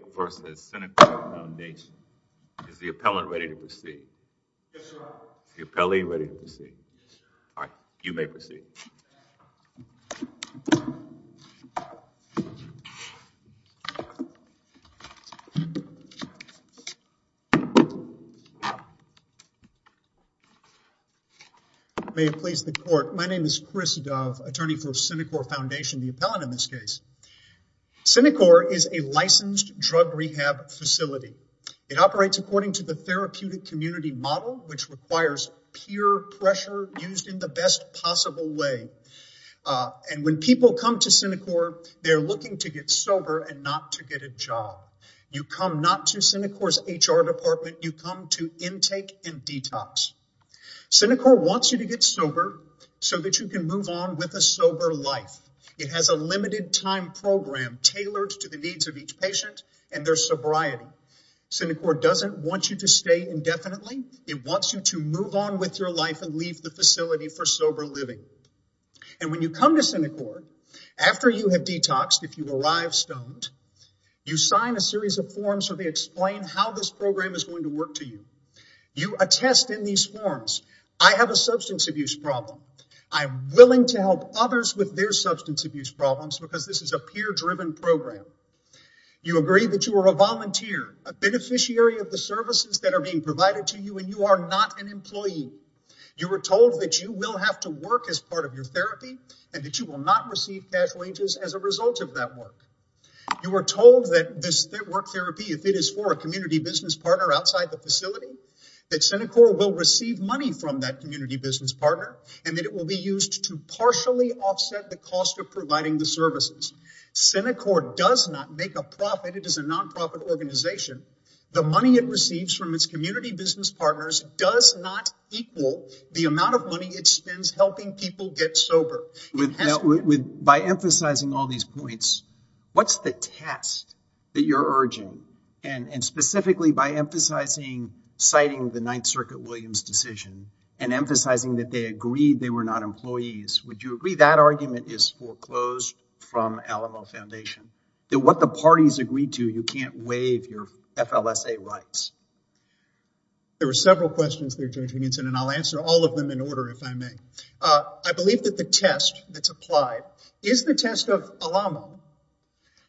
My name is Chris Dove, attorney for Cenikor Foundation, the appellant in this case. Cenikor is a licensed drug rehab facility. It operates according to the therapeutic community model, which requires peer pressure used in the best possible way. And when people come to Cenikor, they're looking to get sober and not to get a job. You come not to Cenikor's HR department, you come to intake and detox. Cenikor wants you to get sober so that you can move on with a sober life. It has a limited time program tailored to the needs of each patient and their sobriety. Cenikor doesn't want you to stay indefinitely. It wants you to move on with your life and leave the facility for sober living. And when you come to Cenikor, after you have detoxed, if you arrive stoned, you sign a series of forms where they explain how this program is going to work to you. You attest in these forms, I have a substance abuse problem. I'm willing to help others with their substance abuse problems because this is a peer-driven program. You agree that you are a volunteer, a beneficiary of the services that are being provided to you, and you are not an employee. You were told that you will have to work as part of your therapy and that you will not receive cash wages as a result of that work. You were told that this work therapy, if it is for a community business partner outside the facility, that Cenikor will receive money from that community business partner, and that it will be used to partially offset the cost of providing the services. Cenikor does not make a profit. It is a non-profit organization. The money it receives from its community business partners does not equal the amount of money it spends helping people get sober. By emphasizing all these points, what's the test that you're emphasizing? That they agreed they were not employees. Would you agree that argument is foreclosed from Alamo Foundation? That what the parties agreed to, you can't waive your FLSA rights? There were several questions there, Judge Higginson, and I'll answer all of them in order, if I may. I believe that the test that's applied is the test of Alamo,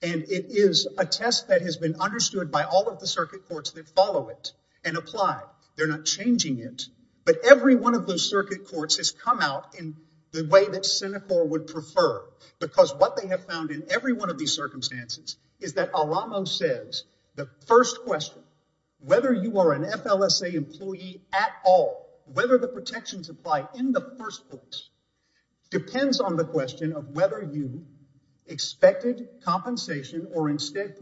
and it is a test that has been understood by all of the circuit courts that follow it and apply. They're not changing it, but every one of those circuit courts has come out in the way that Cenikor would prefer, because what they have found in every one of these circumstances is that Alamo says, the first question, whether you are an FLSA employee at all, whether the protections apply in the first place, depends on the question of whether you expected compensation or instead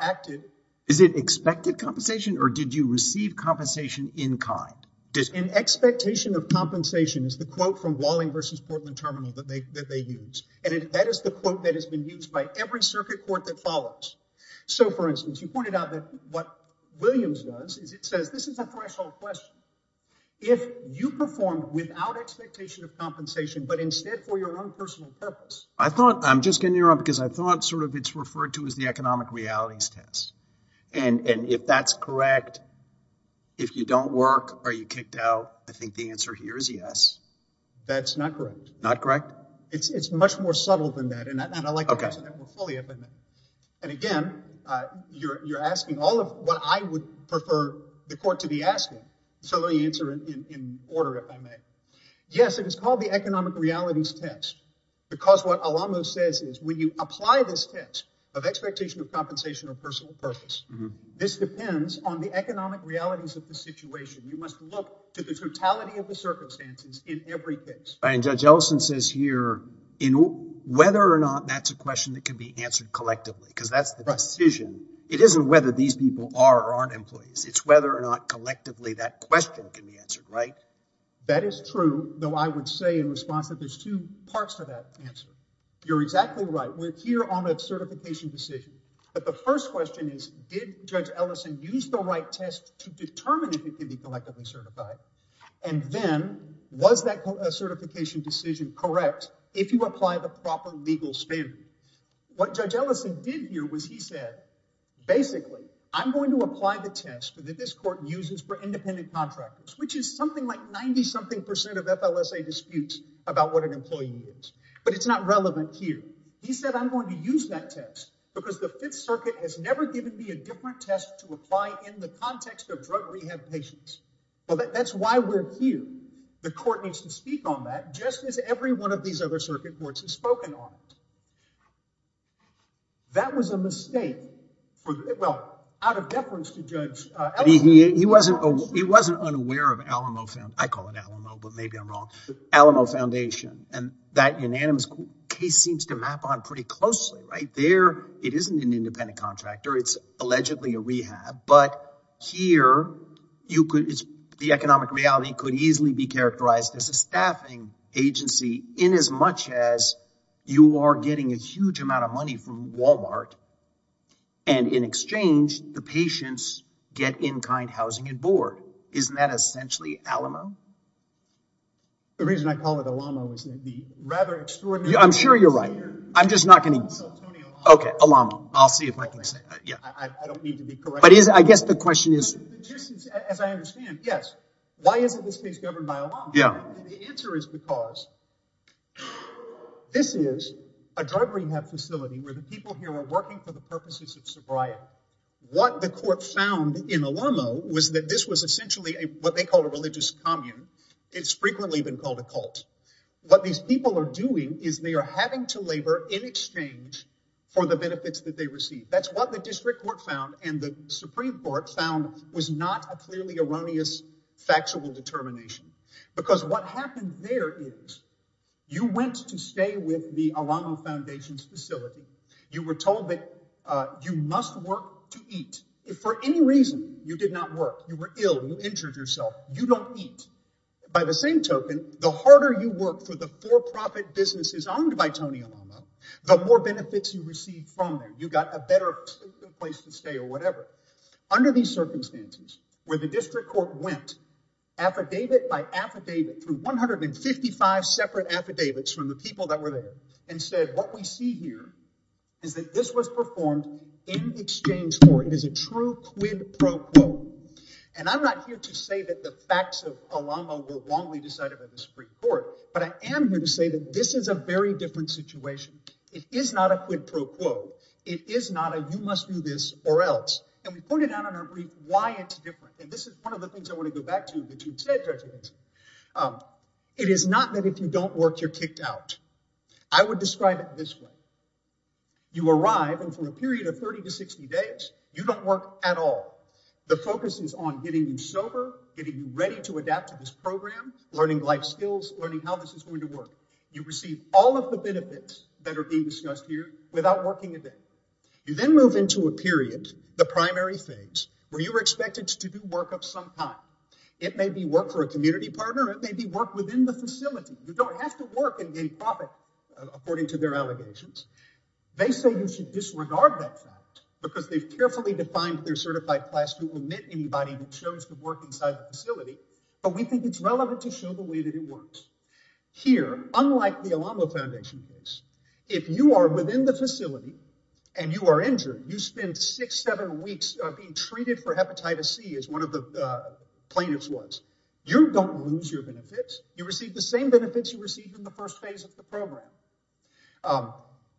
acted. Is it expected compensation, or did you receive compensation in kind? An expectation of compensation is the quote from Walling v. Portland Terminal that they use, and that is the quote that has been used by every circuit court that follows. So, for instance, you pointed out that what Williams does is it says, this is a threshold question. If you performed without expectation of compensation, but instead for your own personal purpose. I thought, I'm just getting you wrong, because I thought sort of it's referred to as the economic realities test, and if that's correct, if you don't work, are you kicked out? I think the answer here is yes. That's not correct. Not correct? It's much more subtle than that, and I'd like to answer that more fully if I may. And again, you're asking all of what I would prefer the court to be asking, so let me answer in order if I may. Yes, it is called the economic or personal purpose. This depends on the economic realities of the situation. You must look to the totality of the circumstances in every case. And Judge Ellison says here, whether or not that's a question that can be answered collectively, because that's the decision. It isn't whether these people are or aren't employees. It's whether or not collectively that question can be answered, right? That is true, though I would say in response that there's two parts to that answer. You're exactly right. We're here on a certification decision, but the first question is, did Judge Ellison use the right test to determine if it could be collectively certified? And then, was that certification decision correct if you apply the proper legal standard? What Judge Ellison did here was he said, basically, I'm going to apply the test that this court uses for independent contractors, which is something like 90-something percent of FLSA disputes about what an employee is, but it's not relevant here. He said, I'm going to use that test because the Fifth Circuit has never given me a different test to apply in the context of drug rehab patients. Well, that's why we're here. The court needs to speak on that, just as every one of these other circuit courts has spoken on it. That was a mistake, well, out of deference to Judge Ellison. He wasn't unaware of Alamo, I call it Alamo, but maybe I'm wrong, Alamo Foundation, and that unanimous case seems to map on pretty closely, right? There, it isn't an independent contractor, it's allegedly a rehab, but here, the economic reality could easily be characterized as a staffing agency in as much as you are getting a huge amount of money from Walmart, and in exchange, the patients get in-kind housing and board. Isn't that essentially Alamo? The reason I call it Alamo is that the rather extraordinary... I'm sure you're right, I'm just not going to... Okay, Alamo. I'll see if I can say, yeah, I don't need to be correct. But I guess the question is... Just as I understand, yes, why isn't this case governed by Alamo? The answer is because this is a drug rehab facility where the people here were working for the purposes of sobriety. What the court found in Alamo was that this was essentially what they call a religious commune. It's frequently been called a cult. What these people are doing is they are having to labor in exchange for the benefits that they receive. That's what the district court found and the Supreme Court found was not a clearly erroneous factual determination, because what happened there is you went to stay with the Alamo Foundation's facility. You were told that you must work to eat. If for any reason you did not work, you were ill, you injured yourself, you don't eat. By the same token, the harder you work for the for-profit businesses owned by Tony Alamo, the more benefits you receive from there. You got a better place to stay or whatever. Under these circumstances, where the district court went affidavit by affidavit through 155 separate affidavits from the people that were there and said what we see here is that this was performed in exchange for it is a true quid pro quo. I'm not here to say that the facts of Alamo were wrongly decided by the Supreme Court, but I am here to say that this is a very different situation. It is not a quid pro quo. It is not that if you don't work, you're kicked out. I would describe it this way. You arrive, and for a period of 30 to 60 days, you don't work at all. The focus is on getting you sober, getting you ready to adapt to this program, learning life skills, learning how this is going to work. You receive all of the benefits that are being discussed here without working a the primary phase where you were expected to do work of some kind. It may be work for a community partner. It may be work within the facility. You don't have to work and gain profit, according to their allegations. They say you should disregard that fact because they've carefully defined their certified class who will admit anybody who chose to work inside the facility, but we think it's relevant to show the way that it works. Here, unlike the Alamo Foundation case, if you are in the facility and you are injured, you spend six, seven weeks being treated for hepatitis C, as one of the plaintiffs was. You don't lose your benefits. You receive the same benefits you received in the first phase of the program.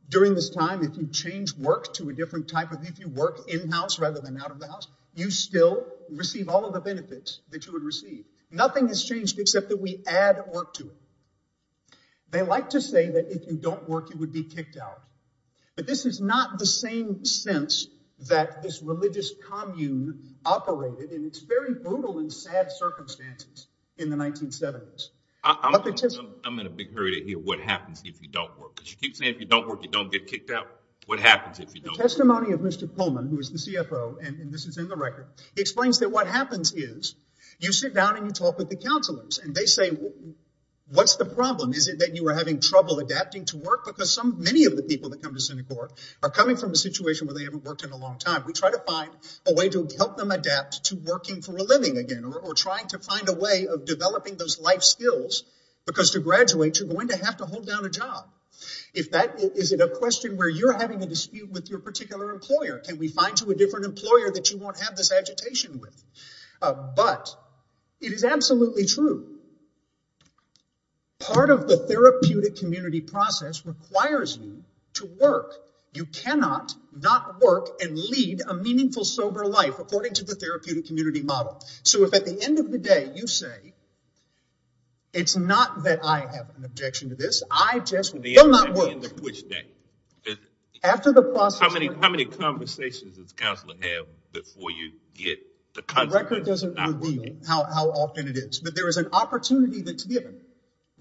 During this time, if you change work to a different type of, if you work in-house rather than out of the house, you still receive all of the benefits that you would receive. Nothing has changed except that we add work to it. They like to say that if you don't work, you would be kicked out, but this is not the same sense that this religious commune operated in its very brutal and sad circumstances in the 1970s. I'm in a big hurry to hear what happens if you don't work because you keep saying if you don't work, you don't get kicked out. What happens if you don't? The testimony of Mr. Pullman, who is the CFO, and this is in the record, he explains that what happens is you sit down and you talk with the counselors and they say, what's the problem? Is it that you are having trouble adapting to work? Because many of the people that come to Synagogue are coming from a situation where they haven't worked in a long time. We try to find a way to help them adapt to working for a living again or trying to find a way of developing those life skills because to graduate, you're going to have to hold down a job. If that is a question where you're having a dispute with your particular employer, can we find you a different employer that you won't have this agitation with? But it is absolutely true. Part of the therapeutic community process requires you to work. You cannot not work and lead a meaningful sober life according to the therapeutic community model. So if at the end of the day you say it's not that I have an objection to this, I just will not work. How many conversations does it reveal how often it is? But there is an opportunity that's given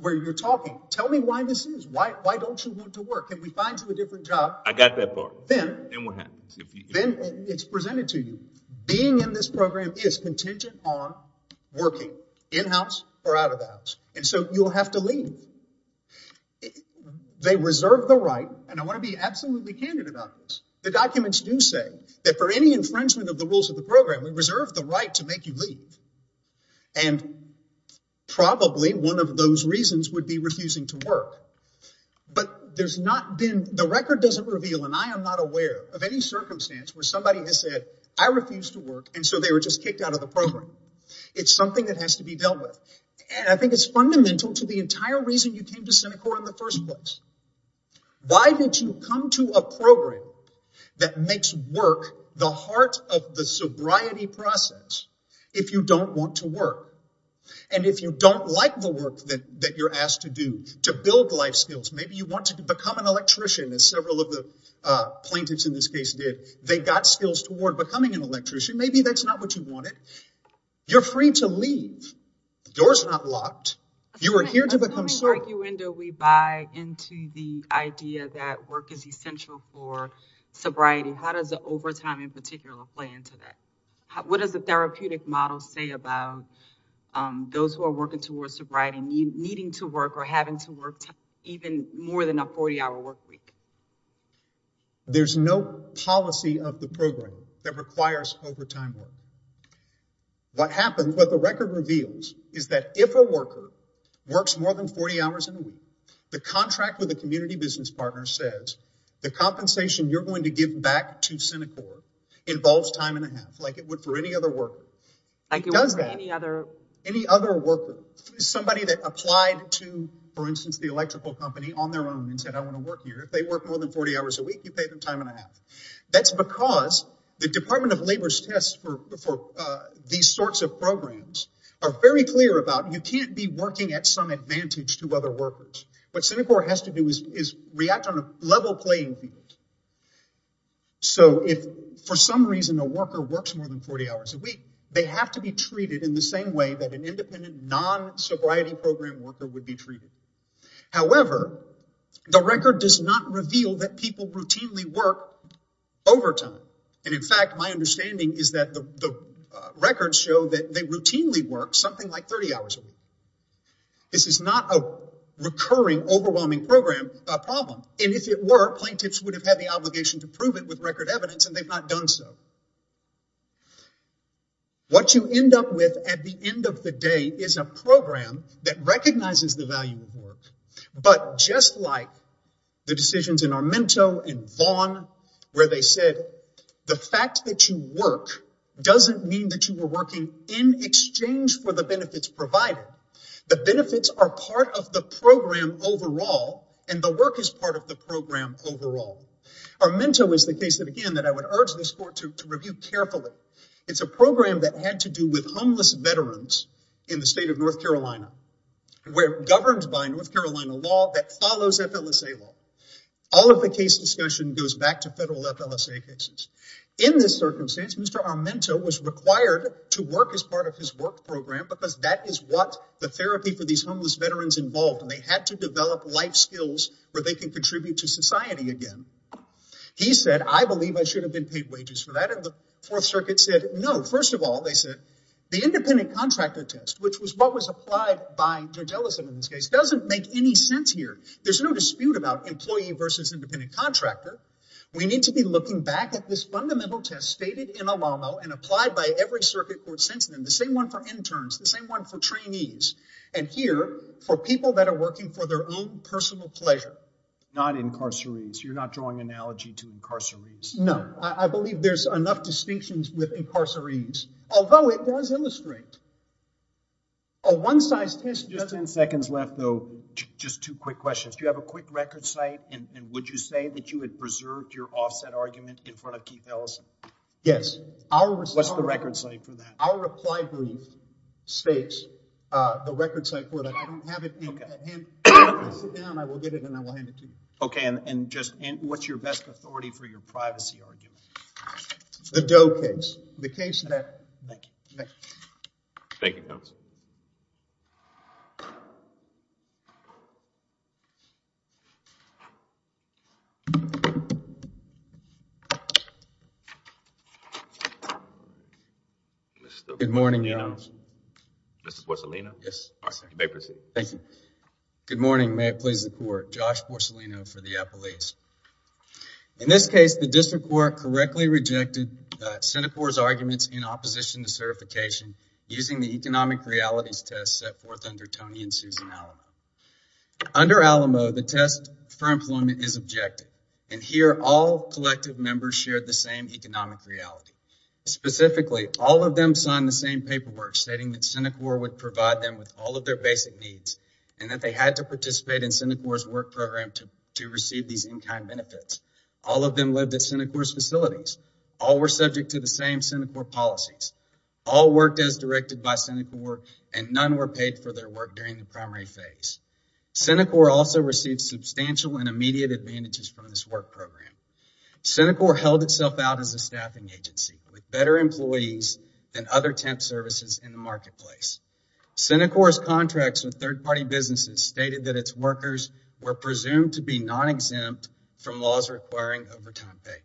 where you're talking, tell me why this is. Why don't you want to work? Can we find you a different job? I got that part. Then it's presented to you. Being in this program is contingent on working in-house or out-of-house and so you'll have to leave. They reserve the right and I want to be absolutely candid about this. The documents do say that for any infringement of the rules of the program, we reserve the right to make you leave and probably one of those reasons would be refusing to work. But the record doesn't reveal and I am not aware of any circumstance where somebody has said I refuse to work and so they were just kicked out of the program. It's something that has to be dealt with and I think it's fundamental to the entire reason you came to Cinecor in the first place. Why did you come to a program that makes work the heart of the sobriety process if you don't want to work? And if you don't like the work that you're asked to do to build life skills, maybe you want to become an electrician as several of the plaintiffs in this case did. They got skills toward becoming an electrician. Maybe that's not what you wanted. You're free to leave. The door's not locked. You are here to become certain. The argument we buy into the idea that work is essential for sobriety, how does the overtime in particular play into that? What does the therapeutic model say about those who are working towards sobriety needing to work or having to work even more than a 40-hour work week? There's no policy of the program that requires overtime work. What happens, what the record reveals is that if a worker works more than 40 hours in a week, the contract with the community business partner says the compensation you're going to give back to Cinecor involves time and a half like it would for any other worker. Any other worker, somebody that applied to, for instance, the electrical company on their own and said, I want to work here. If they work more than 40 hours a week, you pay them time and a half. That's because the Department of Labor's tests for these sorts of programs are very clear about you can't be working at some advantage to other workers. What Cinecor has to do is react on a level playing field. So if for some reason a worker works more than 40 hours a week, they have to be treated in the same way that an independent non-sobriety program worker would be overtime. In fact, my understanding is that the records show that they routinely work something like 30 hours a week. This is not a recurring, overwhelming problem. If it were, plaintiffs would have had the obligation to prove it with record evidence, and they've not done so. What you end up with at the end of the day is a program that recognizes the value of work, but just like the decisions in Armento and Vaughn, where they said the fact that you work doesn't mean that you were working in exchange for the benefits provided. The benefits are part of the program overall, and the work is part of the program overall. Armento is the case that, again, that I would urge this court to review carefully. It's a program that had to do with law that follows FLSA law. All of the case discussion goes back to federal FLSA cases. In this circumstance, Mr. Armento was required to work as part of his work program because that is what the therapy for these homeless veterans involved, and they had to develop life skills where they can contribute to society again. He said, I believe I should have been paid wages for that, and the Fourth Circuit said, no. First of all, they said the independent contractor test, which was what was applied by Jardellison in this case, doesn't make any sense here. There's no dispute about employee versus independent contractor. We need to be looking back at this fundamental test stated in Olamo and applied by every circuit court since then, the same one for interns, the same one for trainees, and here for people that are working for their own personal pleasure. Not incarcerees. You're not drawing an analogy to incarcerees. No. I believe there's enough distinctions with incarcerees, although it does illustrate a one-size-fits-all. Just in seconds left, though, just two quick questions. Do you have a quick record site, and would you say that you had preserved your offset argument in front of Keith Ellison? Yes. What's the record site for that? Our reply brief states the record site for that. I don't have it, and if I sit down, I will get it, and I will hand it to you. Okay, and what's your best authority for your privacy argument? The Doe case. The case that... Thank you, counsel. Good morning, Your Honor. Mr. Porcellino? Yes, sir. You may proceed. Thank you. Good morning. May it please the court. Josh Porcellino for the Apple East. In this case, the district court correctly rejected Senate CORE's arguments in opposition to certification using the economic realities test set forth under Tony and Susan Alamo. Under Alamo, the test for employment is objective, and here all collective members shared the same economic reality. Specifically, all of them signed the same paperwork stating that Senate CORE would provide them with all of their basic needs and that they had to participate in Senate CORE's work program to receive these in-kind benefits. All of them lived at Senate CORE's facilities. All were subject to the same Senate CORE policies. All worked as directed by Senate CORE, and none were paid for their work during the primary phase. Senate CORE also received substantial and immediate advantages from this work program. Senate CORE held itself out as a staffing agency with better employees than other contracts with third-party businesses stated that its workers were presumed to be non-exempt from laws requiring overtime pay.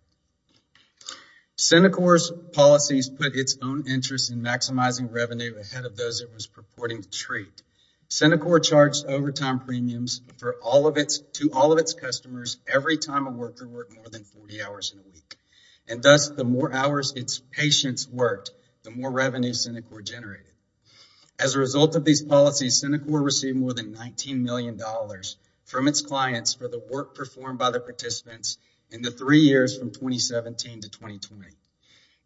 Senate CORE's policies put its own interest in maximizing revenue ahead of those it was purporting to treat. Senate CORE charged overtime premiums to all of its customers every time a worker worked more than 40 hours in a week, and thus the more hours its patients worked, the more revenue Senate CORE generated. As a result of these policies, Senate CORE received more than $19 million from its clients for the work performed by the participants in the three years from 2017 to 2020.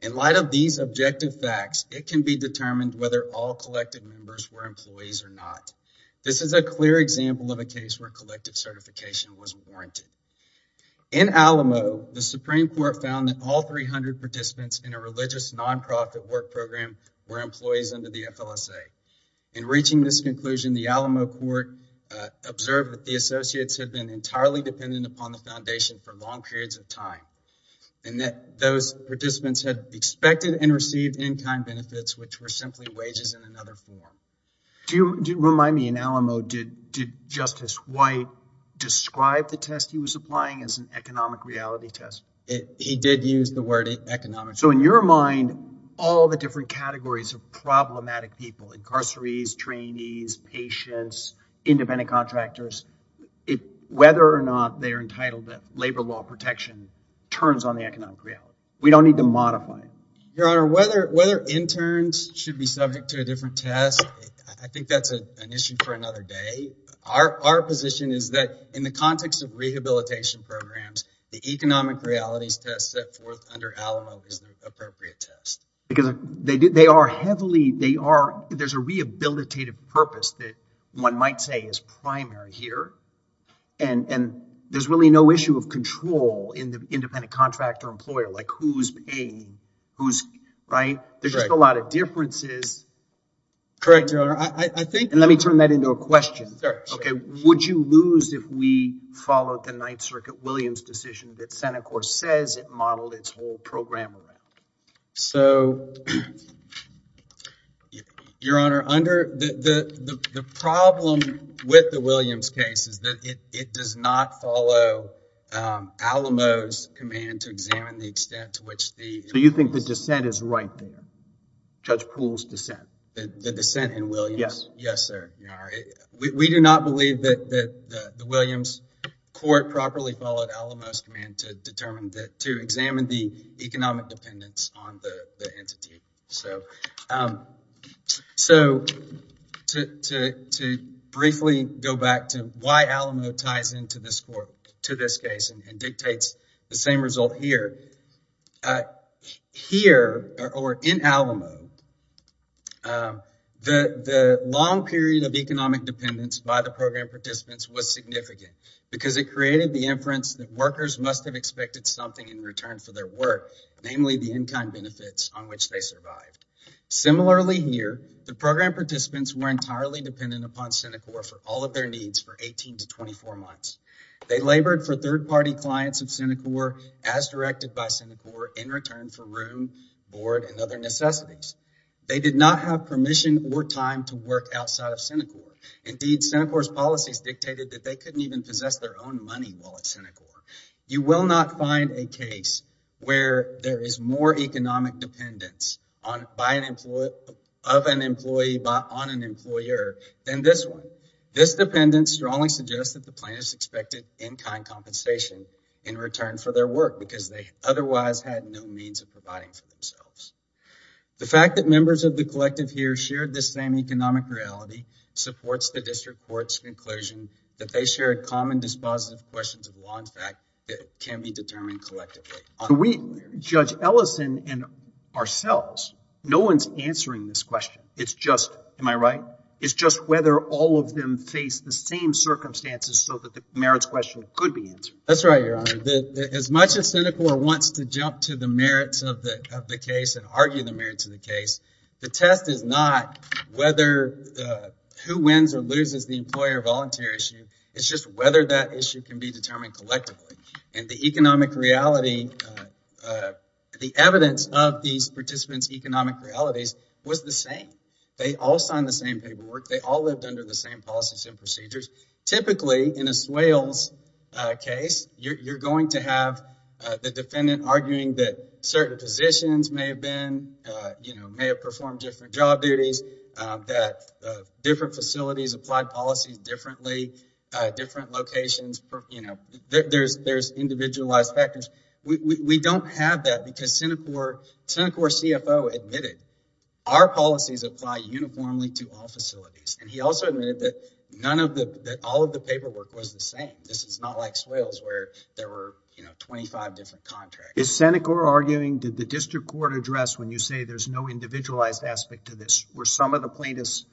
In light of these objective facts, it can be determined whether all collective members were employees or not. This is a clear example of a case where collective certification was warranted. In Alamo, the Supreme Court found that all 300 participants in a religious non-profit work association were employees of the FLSA. In reaching this conclusion, the Alamo Court observed that the associates had been entirely dependent upon the foundation for long periods of time and that those participants had expected and received in-kind benefits, which were simply wages in another form. Do you remind me, in Alamo, did Justice White describe the test he was applying as an economic reality test? He did use the word economic. So, in your mind, all the different categories of problematic people, incarcerees, trainees, patients, independent contractors, whether or not they're entitled to labor law protection turns on the economic reality. We don't need to modify it. Your Honor, whether interns should be subject to a different test, I think that's an issue for another day. Our position is that in the context of rehabilitation programs, the economic realities test set forth under Alamo is the appropriate test. There's a rehabilitative purpose that one might say is primary here, and there's really no issue of control in the independent contractor employer, like who's paying. There's just a lot of differences. Correct, Your Honor. Let me turn that into a question. Would you lose if we followed the model its whole program around? Your Honor, the problem with the Williams case is that it does not follow Alamo's command to examine the extent to which the... So, you think the dissent is right there? Judge Poole's dissent? The dissent in Williams? Yes. Yes, sir. We do not believe that the Williams court properly followed Alamo's command to examine the economic dependence on the entity. So, to briefly go back to why Alamo ties into this case and dictates the same result here. Here, or in Alamo, the long period of economic dependence by the program participants was significant because it created the inference that workers must have expected something in return for their work, namely the in-kind benefits on which they survived. Similarly here, the program participants were entirely dependent upon Senecor for all of their needs for 18 to 24 months. They labored for third-party clients of Senecor as directed by Senecor in return for room, board, and other necessities. They did not have permission or time to work outside of Senecor. Indeed, Senecor's policies dictated that they couldn't even possess their own money while at Senecor. You will not find a case where there is more economic dependence of an employee on an employer than this one. This dependence strongly suggests that the plaintiffs expected in-kind compensation in return for their work because they otherwise had no means of providing for themselves. The fact that members of the collective here shared this same economic morality supports the district court's conclusion that they shared common dispositive questions of law and fact that can be determined collectively. We, Judge Ellison and ourselves, no one's answering this question. It's just, am I right? It's just whether all of them face the same circumstances so that the merits question could be answered. That's right, your honor. As much as Senecor wants to jump to the merits of the of the case and argue the merits of the case, the test is not whether who wins or loses the employer-volunteer issue. It's just whether that issue can be determined collectively. And the economic reality, the evidence of these participants' economic realities was the same. They all signed the same paperwork. They all lived under the same policies and procedures. Typically, in a swales case, you're going to have the defendant arguing that certain positions may have been, you know, may have performed different job duties, that different facilities applied policies differently, different locations, you know, there's individualized factors. We don't have that because Senecor CFO admitted our policies apply uniformly to all facilities. And he also admitted that none of the, that all of the paperwork was the same. This is not like swales where there were, you know, 25 different contracts. Is Senecor arguing, did the district court address when you say there's no individualized aspect to this, were some of the plaintiffs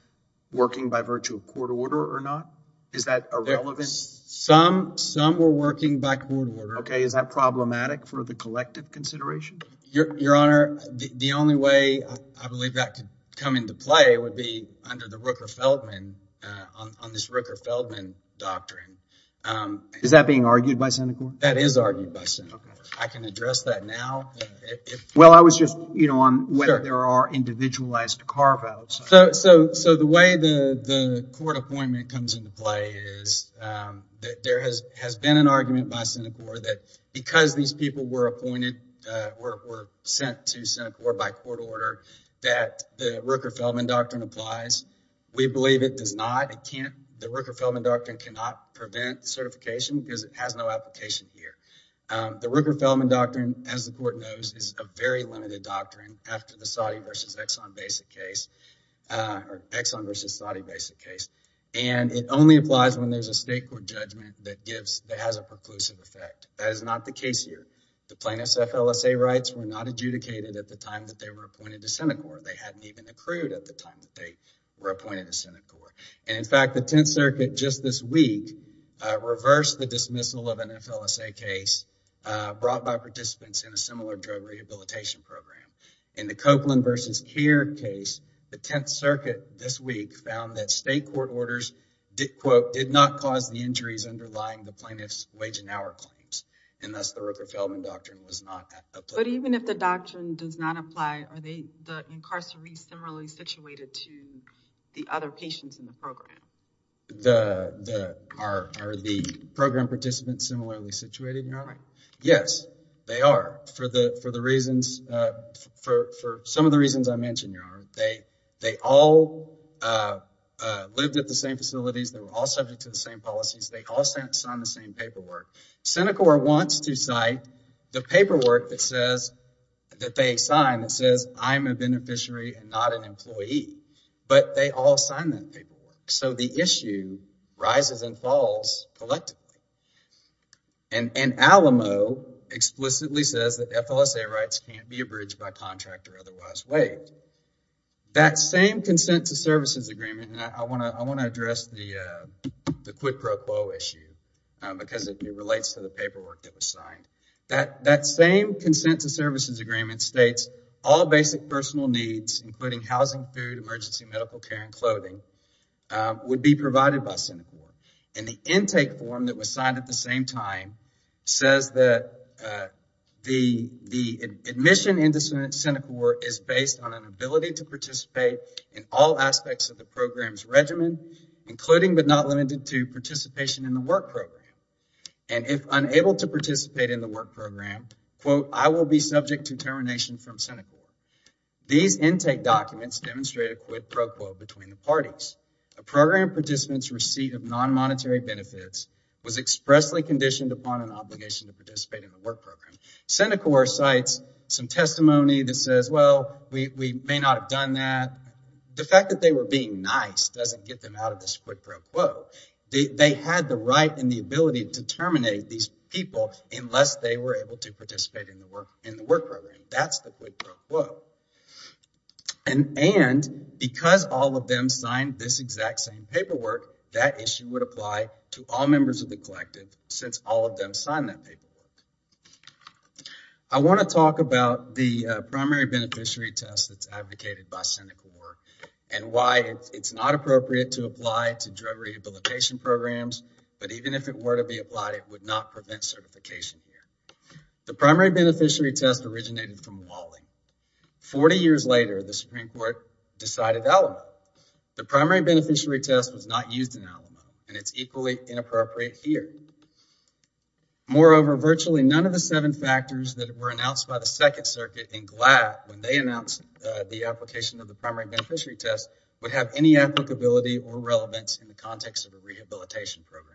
working by virtue of court order or not? Is that irrelevant? Some, some were working by court order. Okay, is that problematic for the collective consideration? Your honor, the only way I believe that could come into play would be under the Rooker-Feldman, on this Rooker-Feldman doctrine. Is that being argued by Senecor? That is argued by Senecor. I can address that now. Well, I was just, you know, on whether there are individualized carve-outs. So, so, so the way the, the court appointment comes into play is that there has, has been an argument by Senecor that because these people were appointed, were sent to Senecor by court order, that the Rooker-Feldman doctrine applies. We believe it does not. It can't, the Rooker-Feldman doctrine cannot prevent certification because it has no application here. The Rooker-Feldman doctrine, as the court knows, is a very limited doctrine after the Saudi versus Exxon basic case, or Exxon versus Saudi basic case. And it only applies when there's a state court judgment that gives, that has a preclusive effect. That is not the case here. The plaintiffs' FLSA rights were not adjudicated at the time that they were appointed to Senecor. They hadn't even accrued at the time that they were appointed to Senecor. And in fact, the Tenth Circuit just this week reversed the dismissal of an FLSA case brought by participants in a similar drug rehabilitation program. In the Copeland versus Keir case, the Tenth Circuit this week found that state court orders did, quote, did not cause the injuries underlying the plaintiff's wage and hour claims. And thus the Rooker-Feldman doctrine was not applied. But even if the doctrine does not apply, are they, the incarcerated similarly situated to the other patients in the program? The, the, are, are the program participants similarly situated, Your Honor? Yes, they are. For the, for the reasons, for, for some of the reasons I mentioned, Your Honor, they, they all lived at the same facilities. They were all subject to the same policies. They all signed the same paperwork. Senecor wants to cite the paperwork that says, that they sign that says, I'm a beneficiary and not an employee. But they all sign that paperwork. So the issue rises and falls collectively. And, and Alamo explicitly says that FLSA rights can't be abridged by contract or otherwise waived. That same consent to services agreement, and I want to, I want to address the, the quid pro quo issue because it relates to the consent to services agreement states all basic personal needs, including housing, food, emergency medical care, and clothing, would be provided by Senecor. And the intake form that was signed at the same time says that the, the admission into Senecor is based on an ability to participate in all aspects of the program's regimen, including but not limited to participation in the work program. And if unable to participate in the work program, quote, I will be subject to termination from Senecor. These intake documents demonstrate a quid pro quo between the parties. A program participant's receipt of non-monetary benefits was expressly conditioned upon an obligation to participate in the work program. Senecor cites some testimony that says, well, we, we may not have done that. The fact that they were being nice doesn't get them out of this quid pro quo. They had the right and the ability to terminate these people unless they were able to participate in the work, in the work program. That's the quid pro quo. And, and because all of them signed this exact same paperwork, that issue would apply to all members of the collective since all of them signed that paperwork. I want to talk about the primary beneficiary test that's advocated by programs, but even if it were to be applied, it would not prevent certification here. The primary beneficiary test originated from Wally. 40 years later, the Supreme Court decided Alamo. The primary beneficiary test was not used in Alamo and it's equally inappropriate here. Moreover, virtually none of the seven factors that were announced by the second circuit in GLAAD when they announced the application of the primary beneficiary test would have any applicability or relevance in the context of a rehabilitation program.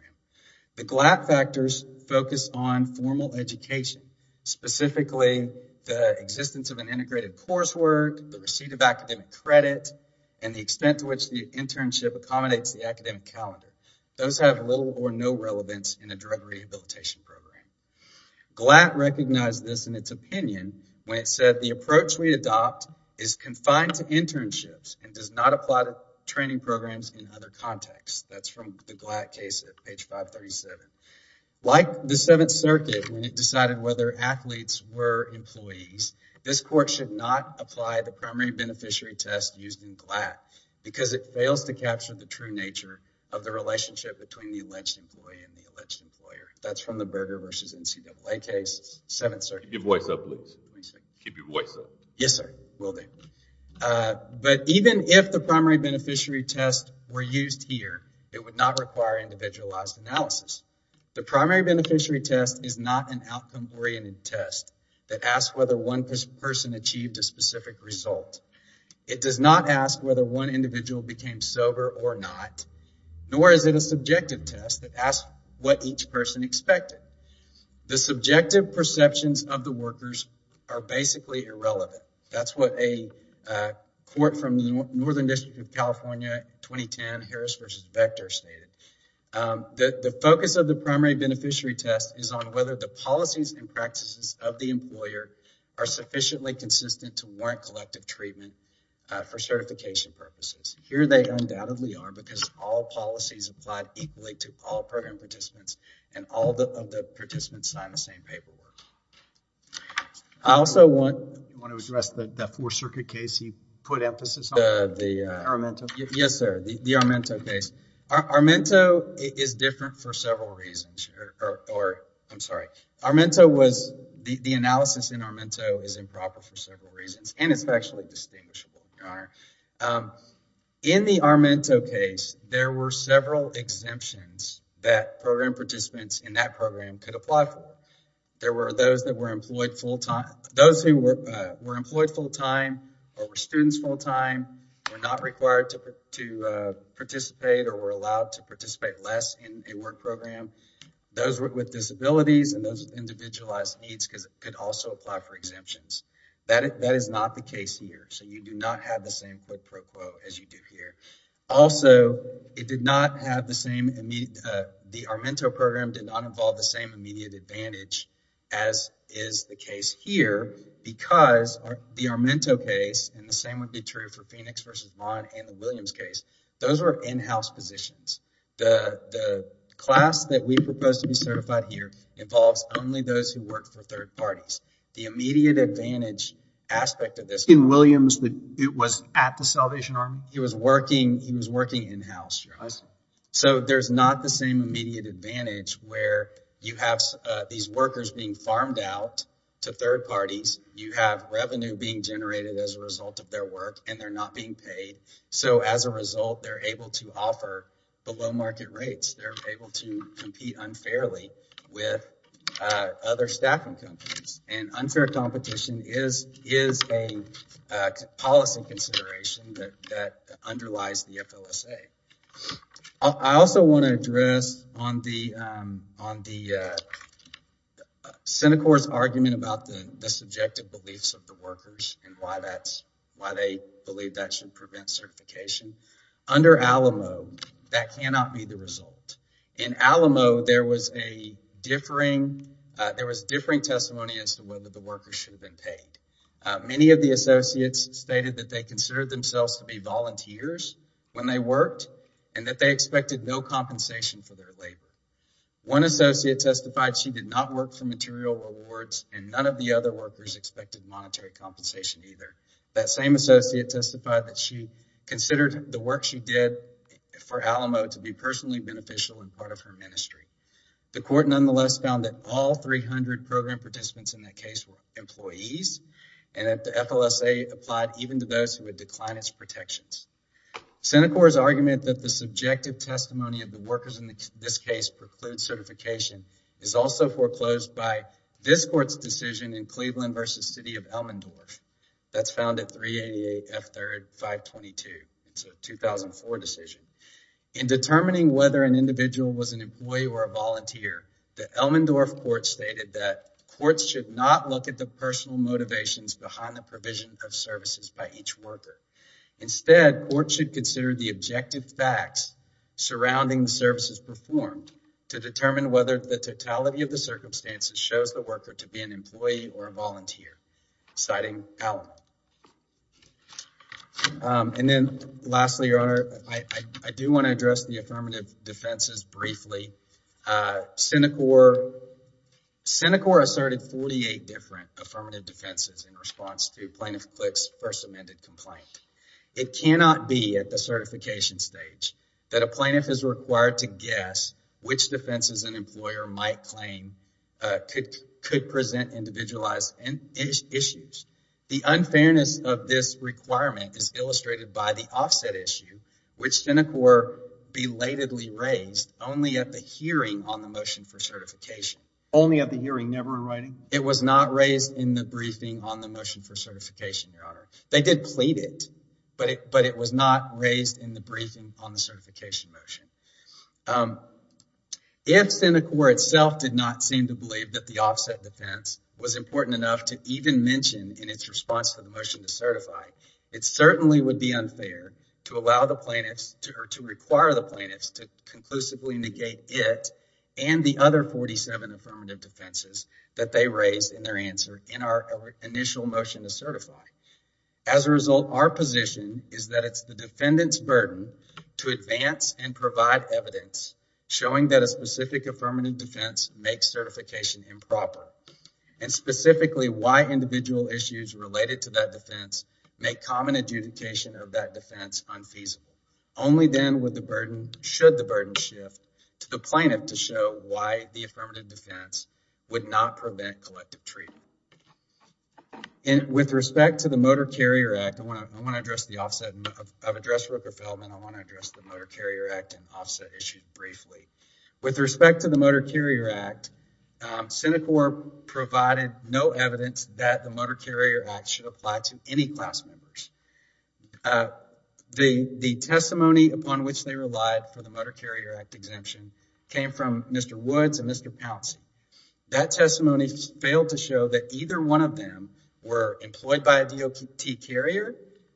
The GLAAD factors focus on formal education, specifically the existence of an integrated coursework, the receipt of academic credit, and the extent to which the internship accommodates the academic calendar. Those have little or no relevance in a drug rehabilitation program. GLAAD recognized this in its opinion when it said the approach we adopt is confined to internships and does not apply to training programs in other contexts. That's from the GLAAD case at page 537. Like the seventh circuit when it decided whether athletes were employees, this court should not apply the primary beneficiary test used in GLAAD because it fails to capture the true nature of the relationship between the alleged employee and the alleged employer. That's from the Berger versus NCAA case. Keep your voice up, please. Keep your voice up. Yes, sir. Will do. But even if the primary beneficiary test were used here, it would not require individualized analysis. The primary beneficiary test is not an outcome-oriented test that asks whether one person achieved a specific result. It does not ask whether one individual became sober or not, nor is it a subjective test that asks what each person expected. The subjective perceptions of the workers are basically irrelevant. That's what a court from the Northern District of California 2010 Harris versus Vector stated. The focus of the primary beneficiary test is on whether the policies and practices of the employer are sufficiently consistent to warrant collective treatment for certification purposes. Here they undoubtedly are because all policies applied equally to all program participants and all of the participants signed the same paperwork. I also want to address the fourth circuit case he put emphasis on. The Armento? Yes, sir. The Armento case. Armento is different for several reasons or I'm sorry. Armento was, the analysis in Armento is improper for several reasons and it's factually distinguishable, your honor. In the Armento case, there were several exemptions that program participants in that program could apply for. There were those that were employed full-time. Those who were employed full-time or were students full-time were not required to participate or were allowed to participate less in a work program. Those with disabilities and those with individualized needs could also apply for exemptions. That is not the case here, so you do not have the same quote-unquote as you do here. Also, it did not have the same the Armento program did not involve the same immediate advantage as is the case here because the Armento case and the same would be true for Phoenix versus Vaughn and the Williams case. Those were in-house positions. The class that we propose to be certified here involves only those who work for third parties. The immediate advantage aspect of this. In Williams, it was at the Salvation Army? He was working in-house, your honor. I see. So, there's not the same immediate advantage where you have these workers being farmed out to third parties. You have revenue being generated as a result of their work and they're not being paid. So, as a result, they're able to offer below market rates. They're able to compete unfairly with other staffing companies and unfair competition is a policy consideration that underlies the FLSA. I also want to address on the on the Senate Court's argument about the subjective beliefs of the workers and why that's why they believe that should prevent certification. Under Alamo, that cannot be the result. In Alamo, there was a differing testimony as to whether the workers should have been paid. Many of the associates stated that they considered themselves to be volunteers when they worked and that they expected no compensation for their labor. One associate testified she did not work for material rewards and none of the other workers expected monetary compensation either. That same associate testified that she considered the work she did for Alamo to be personally beneficial and part of her ministry. The court nonetheless found that all 300 program participants in that case were employees and that the FLSA applied even to protections. Senate Court's argument that the subjective testimony of the workers in this case precludes certification is also foreclosed by this court's decision in Cleveland versus City of Elmendorf. That's found at 388 F3rd 522. It's a 2004 decision. In determining whether an individual was an employee or a volunteer, the Elmendorf court stated that courts should not look at the Instead, courts should consider the objective facts surrounding the services performed to determine whether the totality of the circumstances shows the worker to be an employee or a volunteer, citing Alamo. And then lastly, your honor, I do want to address the affirmative defenses briefly. Senate court asserted 48 different affirmative defenses in response to plaintiff's first amended complaint. It cannot be at the certification stage that a plaintiff is required to guess which defenses an employer might claim could present individualized issues. The unfairness of this requirement is illustrated by the offset issue, which Senate court belatedly raised only at the hearing on the motion for certification. Only at the hearing, never in writing? It was not raised in the briefing on the motion for certification, your honor. They did plead it, but it was not raised in the briefing on the certification motion. If Senate court itself did not seem to believe that the offset defense was important enough to even mention in its response to the motion to certify, it certainly would be unfair to allow the plaintiffs or to require the plaintiffs to affirmative defenses that they raised in their answer in our initial motion to certify. As a result, our position is that it's the defendant's burden to advance and provide evidence showing that a specific affirmative defense makes certification improper and specifically why individual issues related to that defense make common adjudication of that defense unfeasible. Only then would the burden, should the burden shift to the plaintiff to show why the affirmative defense would not prevent collective treatment. And with respect to the Motor Carrier Act, I want to address the offset. I've addressed Rooker-Feldman. I want to address the Motor Carrier Act and offset issue briefly. With respect to the Motor Carrier Act, Senate court provided no evidence that the Motor Carrier Act should apply to any class members. The testimony upon which they relied for the Motor Carrier Act exemption came from Mr. Woods and Mr. Pouncey. That testimony failed to show that either one of them were employed by a DOT carrier,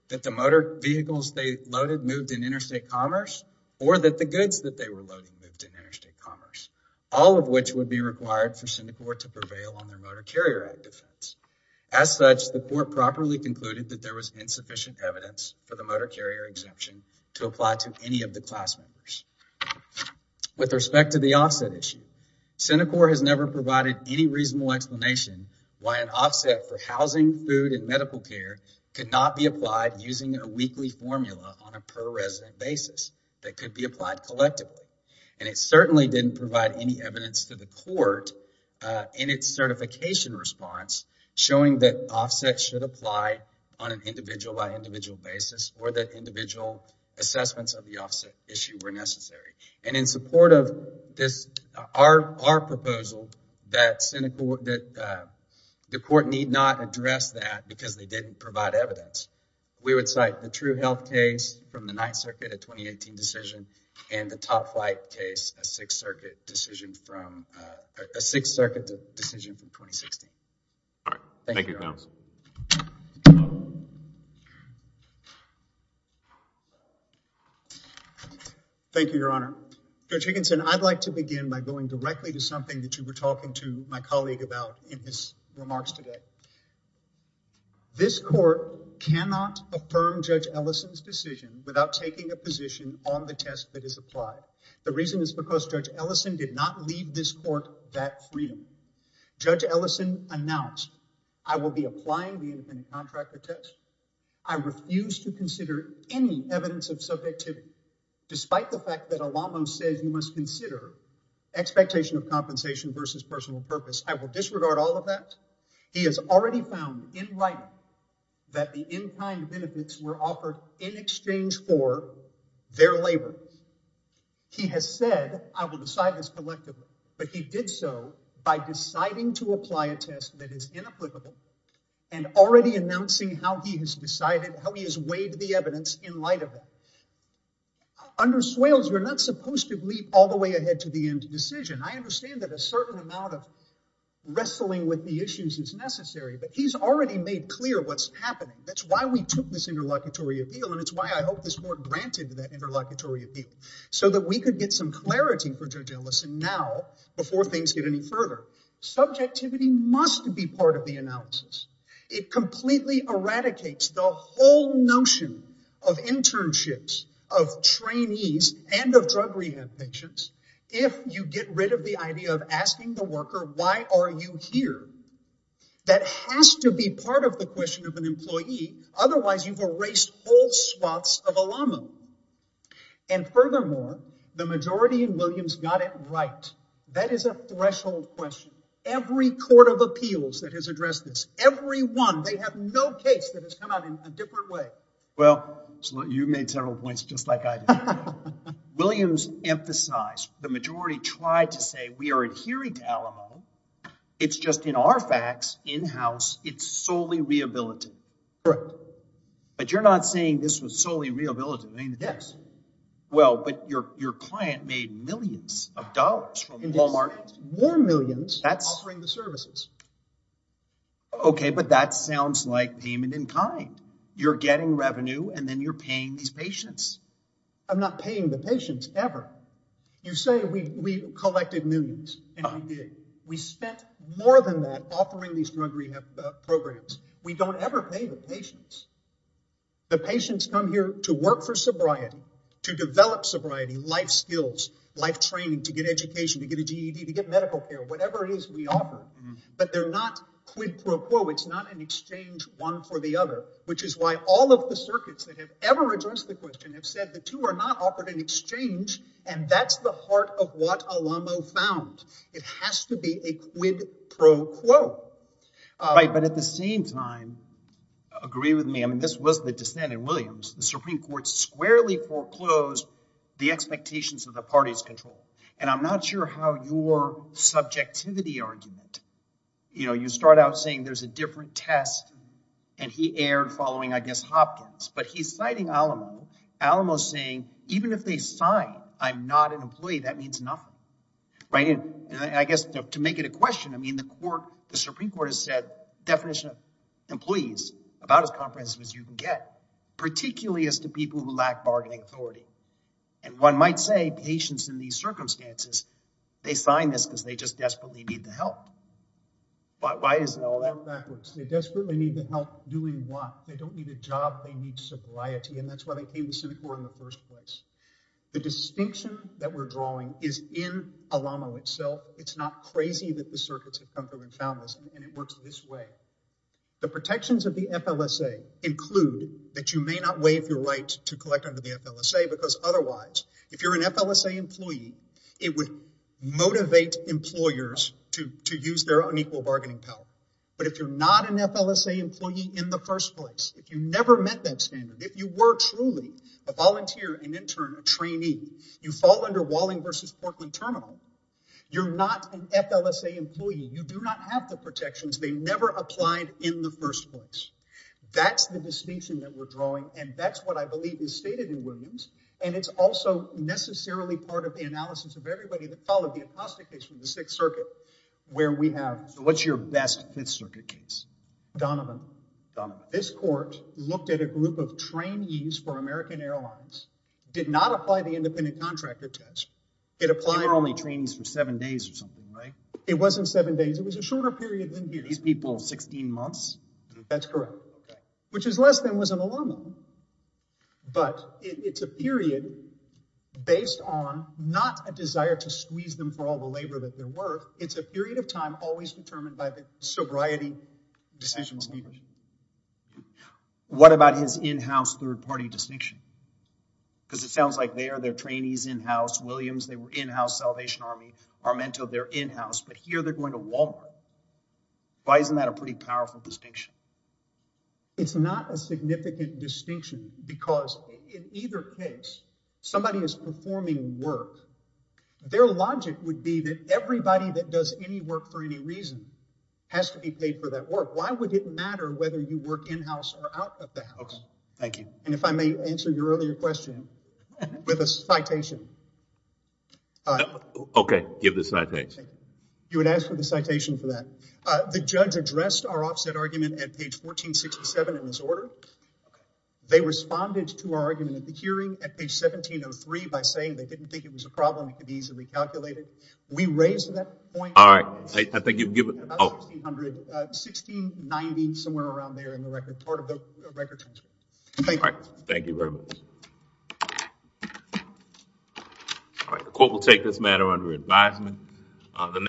that the motor vehicles they loaded moved in interstate commerce, or that the goods that they were loading moved in interstate commerce, all of which would be required for Senate court to prevail on their Motor Carrier Act defense. As such, the court properly concluded that there was insufficient evidence for the Motor Carrier exemption to apply to any of the class members. With respect to the offset issue, Senate court has never provided any reasonable explanation why an offset for housing, food, and medical care could not be applied using a weekly formula on a per resident basis that could be applied collectively. And it certainly didn't provide any evidence to the court in its certification response showing that offsets should apply on an individual by individual basis or that individual assessments of the offset issue were necessary. And in support of this, our proposal that the court need not address that because they didn't provide evidence. We would cite the True Health case from the Ninth Circuit, a 2018 decision, and the Top Flight case, a Sixth Circuit decision from 2016. All right. Thank you, Your Honor. Thank you, Your Honor. Judge Higginson, I'd like to begin by going directly to something that you were talking to my colleague about in his remarks today. This court cannot affirm Judge Ellison's decision without taking a position on the test that is applied. The reason is because Judge Ellison did not leave this court that freedom. Judge Ellison announced, I will be applying the independent contractor test. I refuse to consider any evidence of subjectivity, despite the fact that a law most says you must consider expectation of compensation versus personal purpose. I will disregard all of that. He has already found in writing that the in-kind benefits were offered in exchange for their labor. He has said, I will decide this collectively, but he did so by deciding to apply a test that is inapplicable and already announcing how he has decided, how he has weighed the evidence in light of that. Under Swales, we're not supposed to leap all the way ahead to the end decision. I understand that a certain amount of wrestling with the issues is necessary, but he's already made clear what's happening. That's why we took this interlocutory appeal, and it's why I hope this court granted that interlocutory appeal, so that we could get some clarity for Judge Ellison now before things get any further. Subjectivity must be part of the analysis. It completely eradicates the whole notion of internships, of trainees, and of drug rehab patients. If you get rid of the idea of asking the worker, why are you here? That has to be part of the question of an employee. Otherwise, you've erased whole swaths of a llama. And furthermore, the majority in Williams got it right. That is a threshold question. Every court of appeals that has addressed this, every one, they have no case that has come out in a different way. Well, you majority tried to say we are adhering to Alamo. It's just in our facts, in-house, it's solely rehabilitative. Correct. But you're not saying this was solely rehabilitative, ain't it? Yes. Well, but your client made millions of dollars from Walmart. More millions. That's offering the services. Okay, but that sounds like payment in kind. You're getting revenue, and then you're paying these patients. I'm not paying the patients, ever. You say we collected millions, and we did. We spent more than that offering these drug rehab programs. We don't ever pay the patients. The patients come here to work for sobriety, to develop sobriety, life skills, life training, to get education, to get a GED, to get medical care, whatever it is we offer. But they're not quid pro quo. It's not an exchange one for the other, which is why all of the circuits that have ever addressed the question have said the two are not offered in exchange, and that's the heart of what Alamo found. It has to be a quid pro quo. Right, but at the same time, agree with me, I mean, this was the dissent in Williams. The Supreme Court squarely foreclosed the expectations of the party's control. And I'm not sure how your subjectivity argument, you know, you start out saying there's a different test, and he erred following, I guess, Hopkins, but he's citing Alamo. Alamo's saying even if they sign, I'm not an employee, that means nothing. Right, and I guess to make it a question, I mean, the court, the Supreme Court has said definition of employees, about as comprehensive as you can get, particularly as to people who lack bargaining authority. And one might say patients in these circumstances, they sign this because they just desperately need the help. But why is it all that backwards? They desperately need the help doing what? They don't need a job, they need sobriety, and that's why they came to Seneca in the first place. The distinction that we're drawing is in Alamo itself. It's not crazy that the circuits have come through and found this, and it works this way. The protections of the FLSA include that you may not waive your right to collect under the FLSA, because otherwise, if you're an FLSA employee, it would motivate employers to use their unequal bargaining power. But if you're not an FLSA employee in the first place, if you never met that standard, if you were truly a volunteer, an intern, a trainee, you fall under Walling versus Portland Terminal, you're not an FLSA employee. You do not have the protections. They never applied in the first place. That's the distinction that we're drawing, and that's what I believe is stated in Williams, and it's also necessarily part of the analysis of everybody that followed the apostate case from the Sixth Circuit, where we have... So what's your best Fifth Circuit case? Donovan. Donovan. This court looked at a group of trainees for American Airlines, did not apply the independent contractor test. It applied... They were only trainees for seven days or something, right? It wasn't seven days. It was a shorter period than here. These people, 16 months? That's correct, which is less than was an alumni, but it's a period based on not a desire to squeeze them for all the labor that they're worth. It's a period of time always determined by the sobriety decisions. What about his in-house third-party distinction? Because it sounds like they are their trainees in-house. Williams, they were in-house. Salvation Army, Armento, they're in-house, but here they're going to Walmart. Why isn't that a pretty powerful distinction? It's not a significant distinction because in either case, somebody is performing work. Their logic would be that everybody that does any work for any reason has to be paid for that work. Why would it matter whether you work in-house or out of the house? Okay, thank you. And if I may answer your earlier question with a citation. Okay, give the citation. You would ask for the citation for that. The judge addressed our offset argument at page 1467 in this order. They responded to our argument at the hearing at page 1703 by saying they didn't think it was a problem. It could be easily calculated. We raised that point... All right, I think you've about 1,600, 1,690, somewhere around there in the record. Part of the record. All right, thank you very much. All right, the court will take this matter under advisement.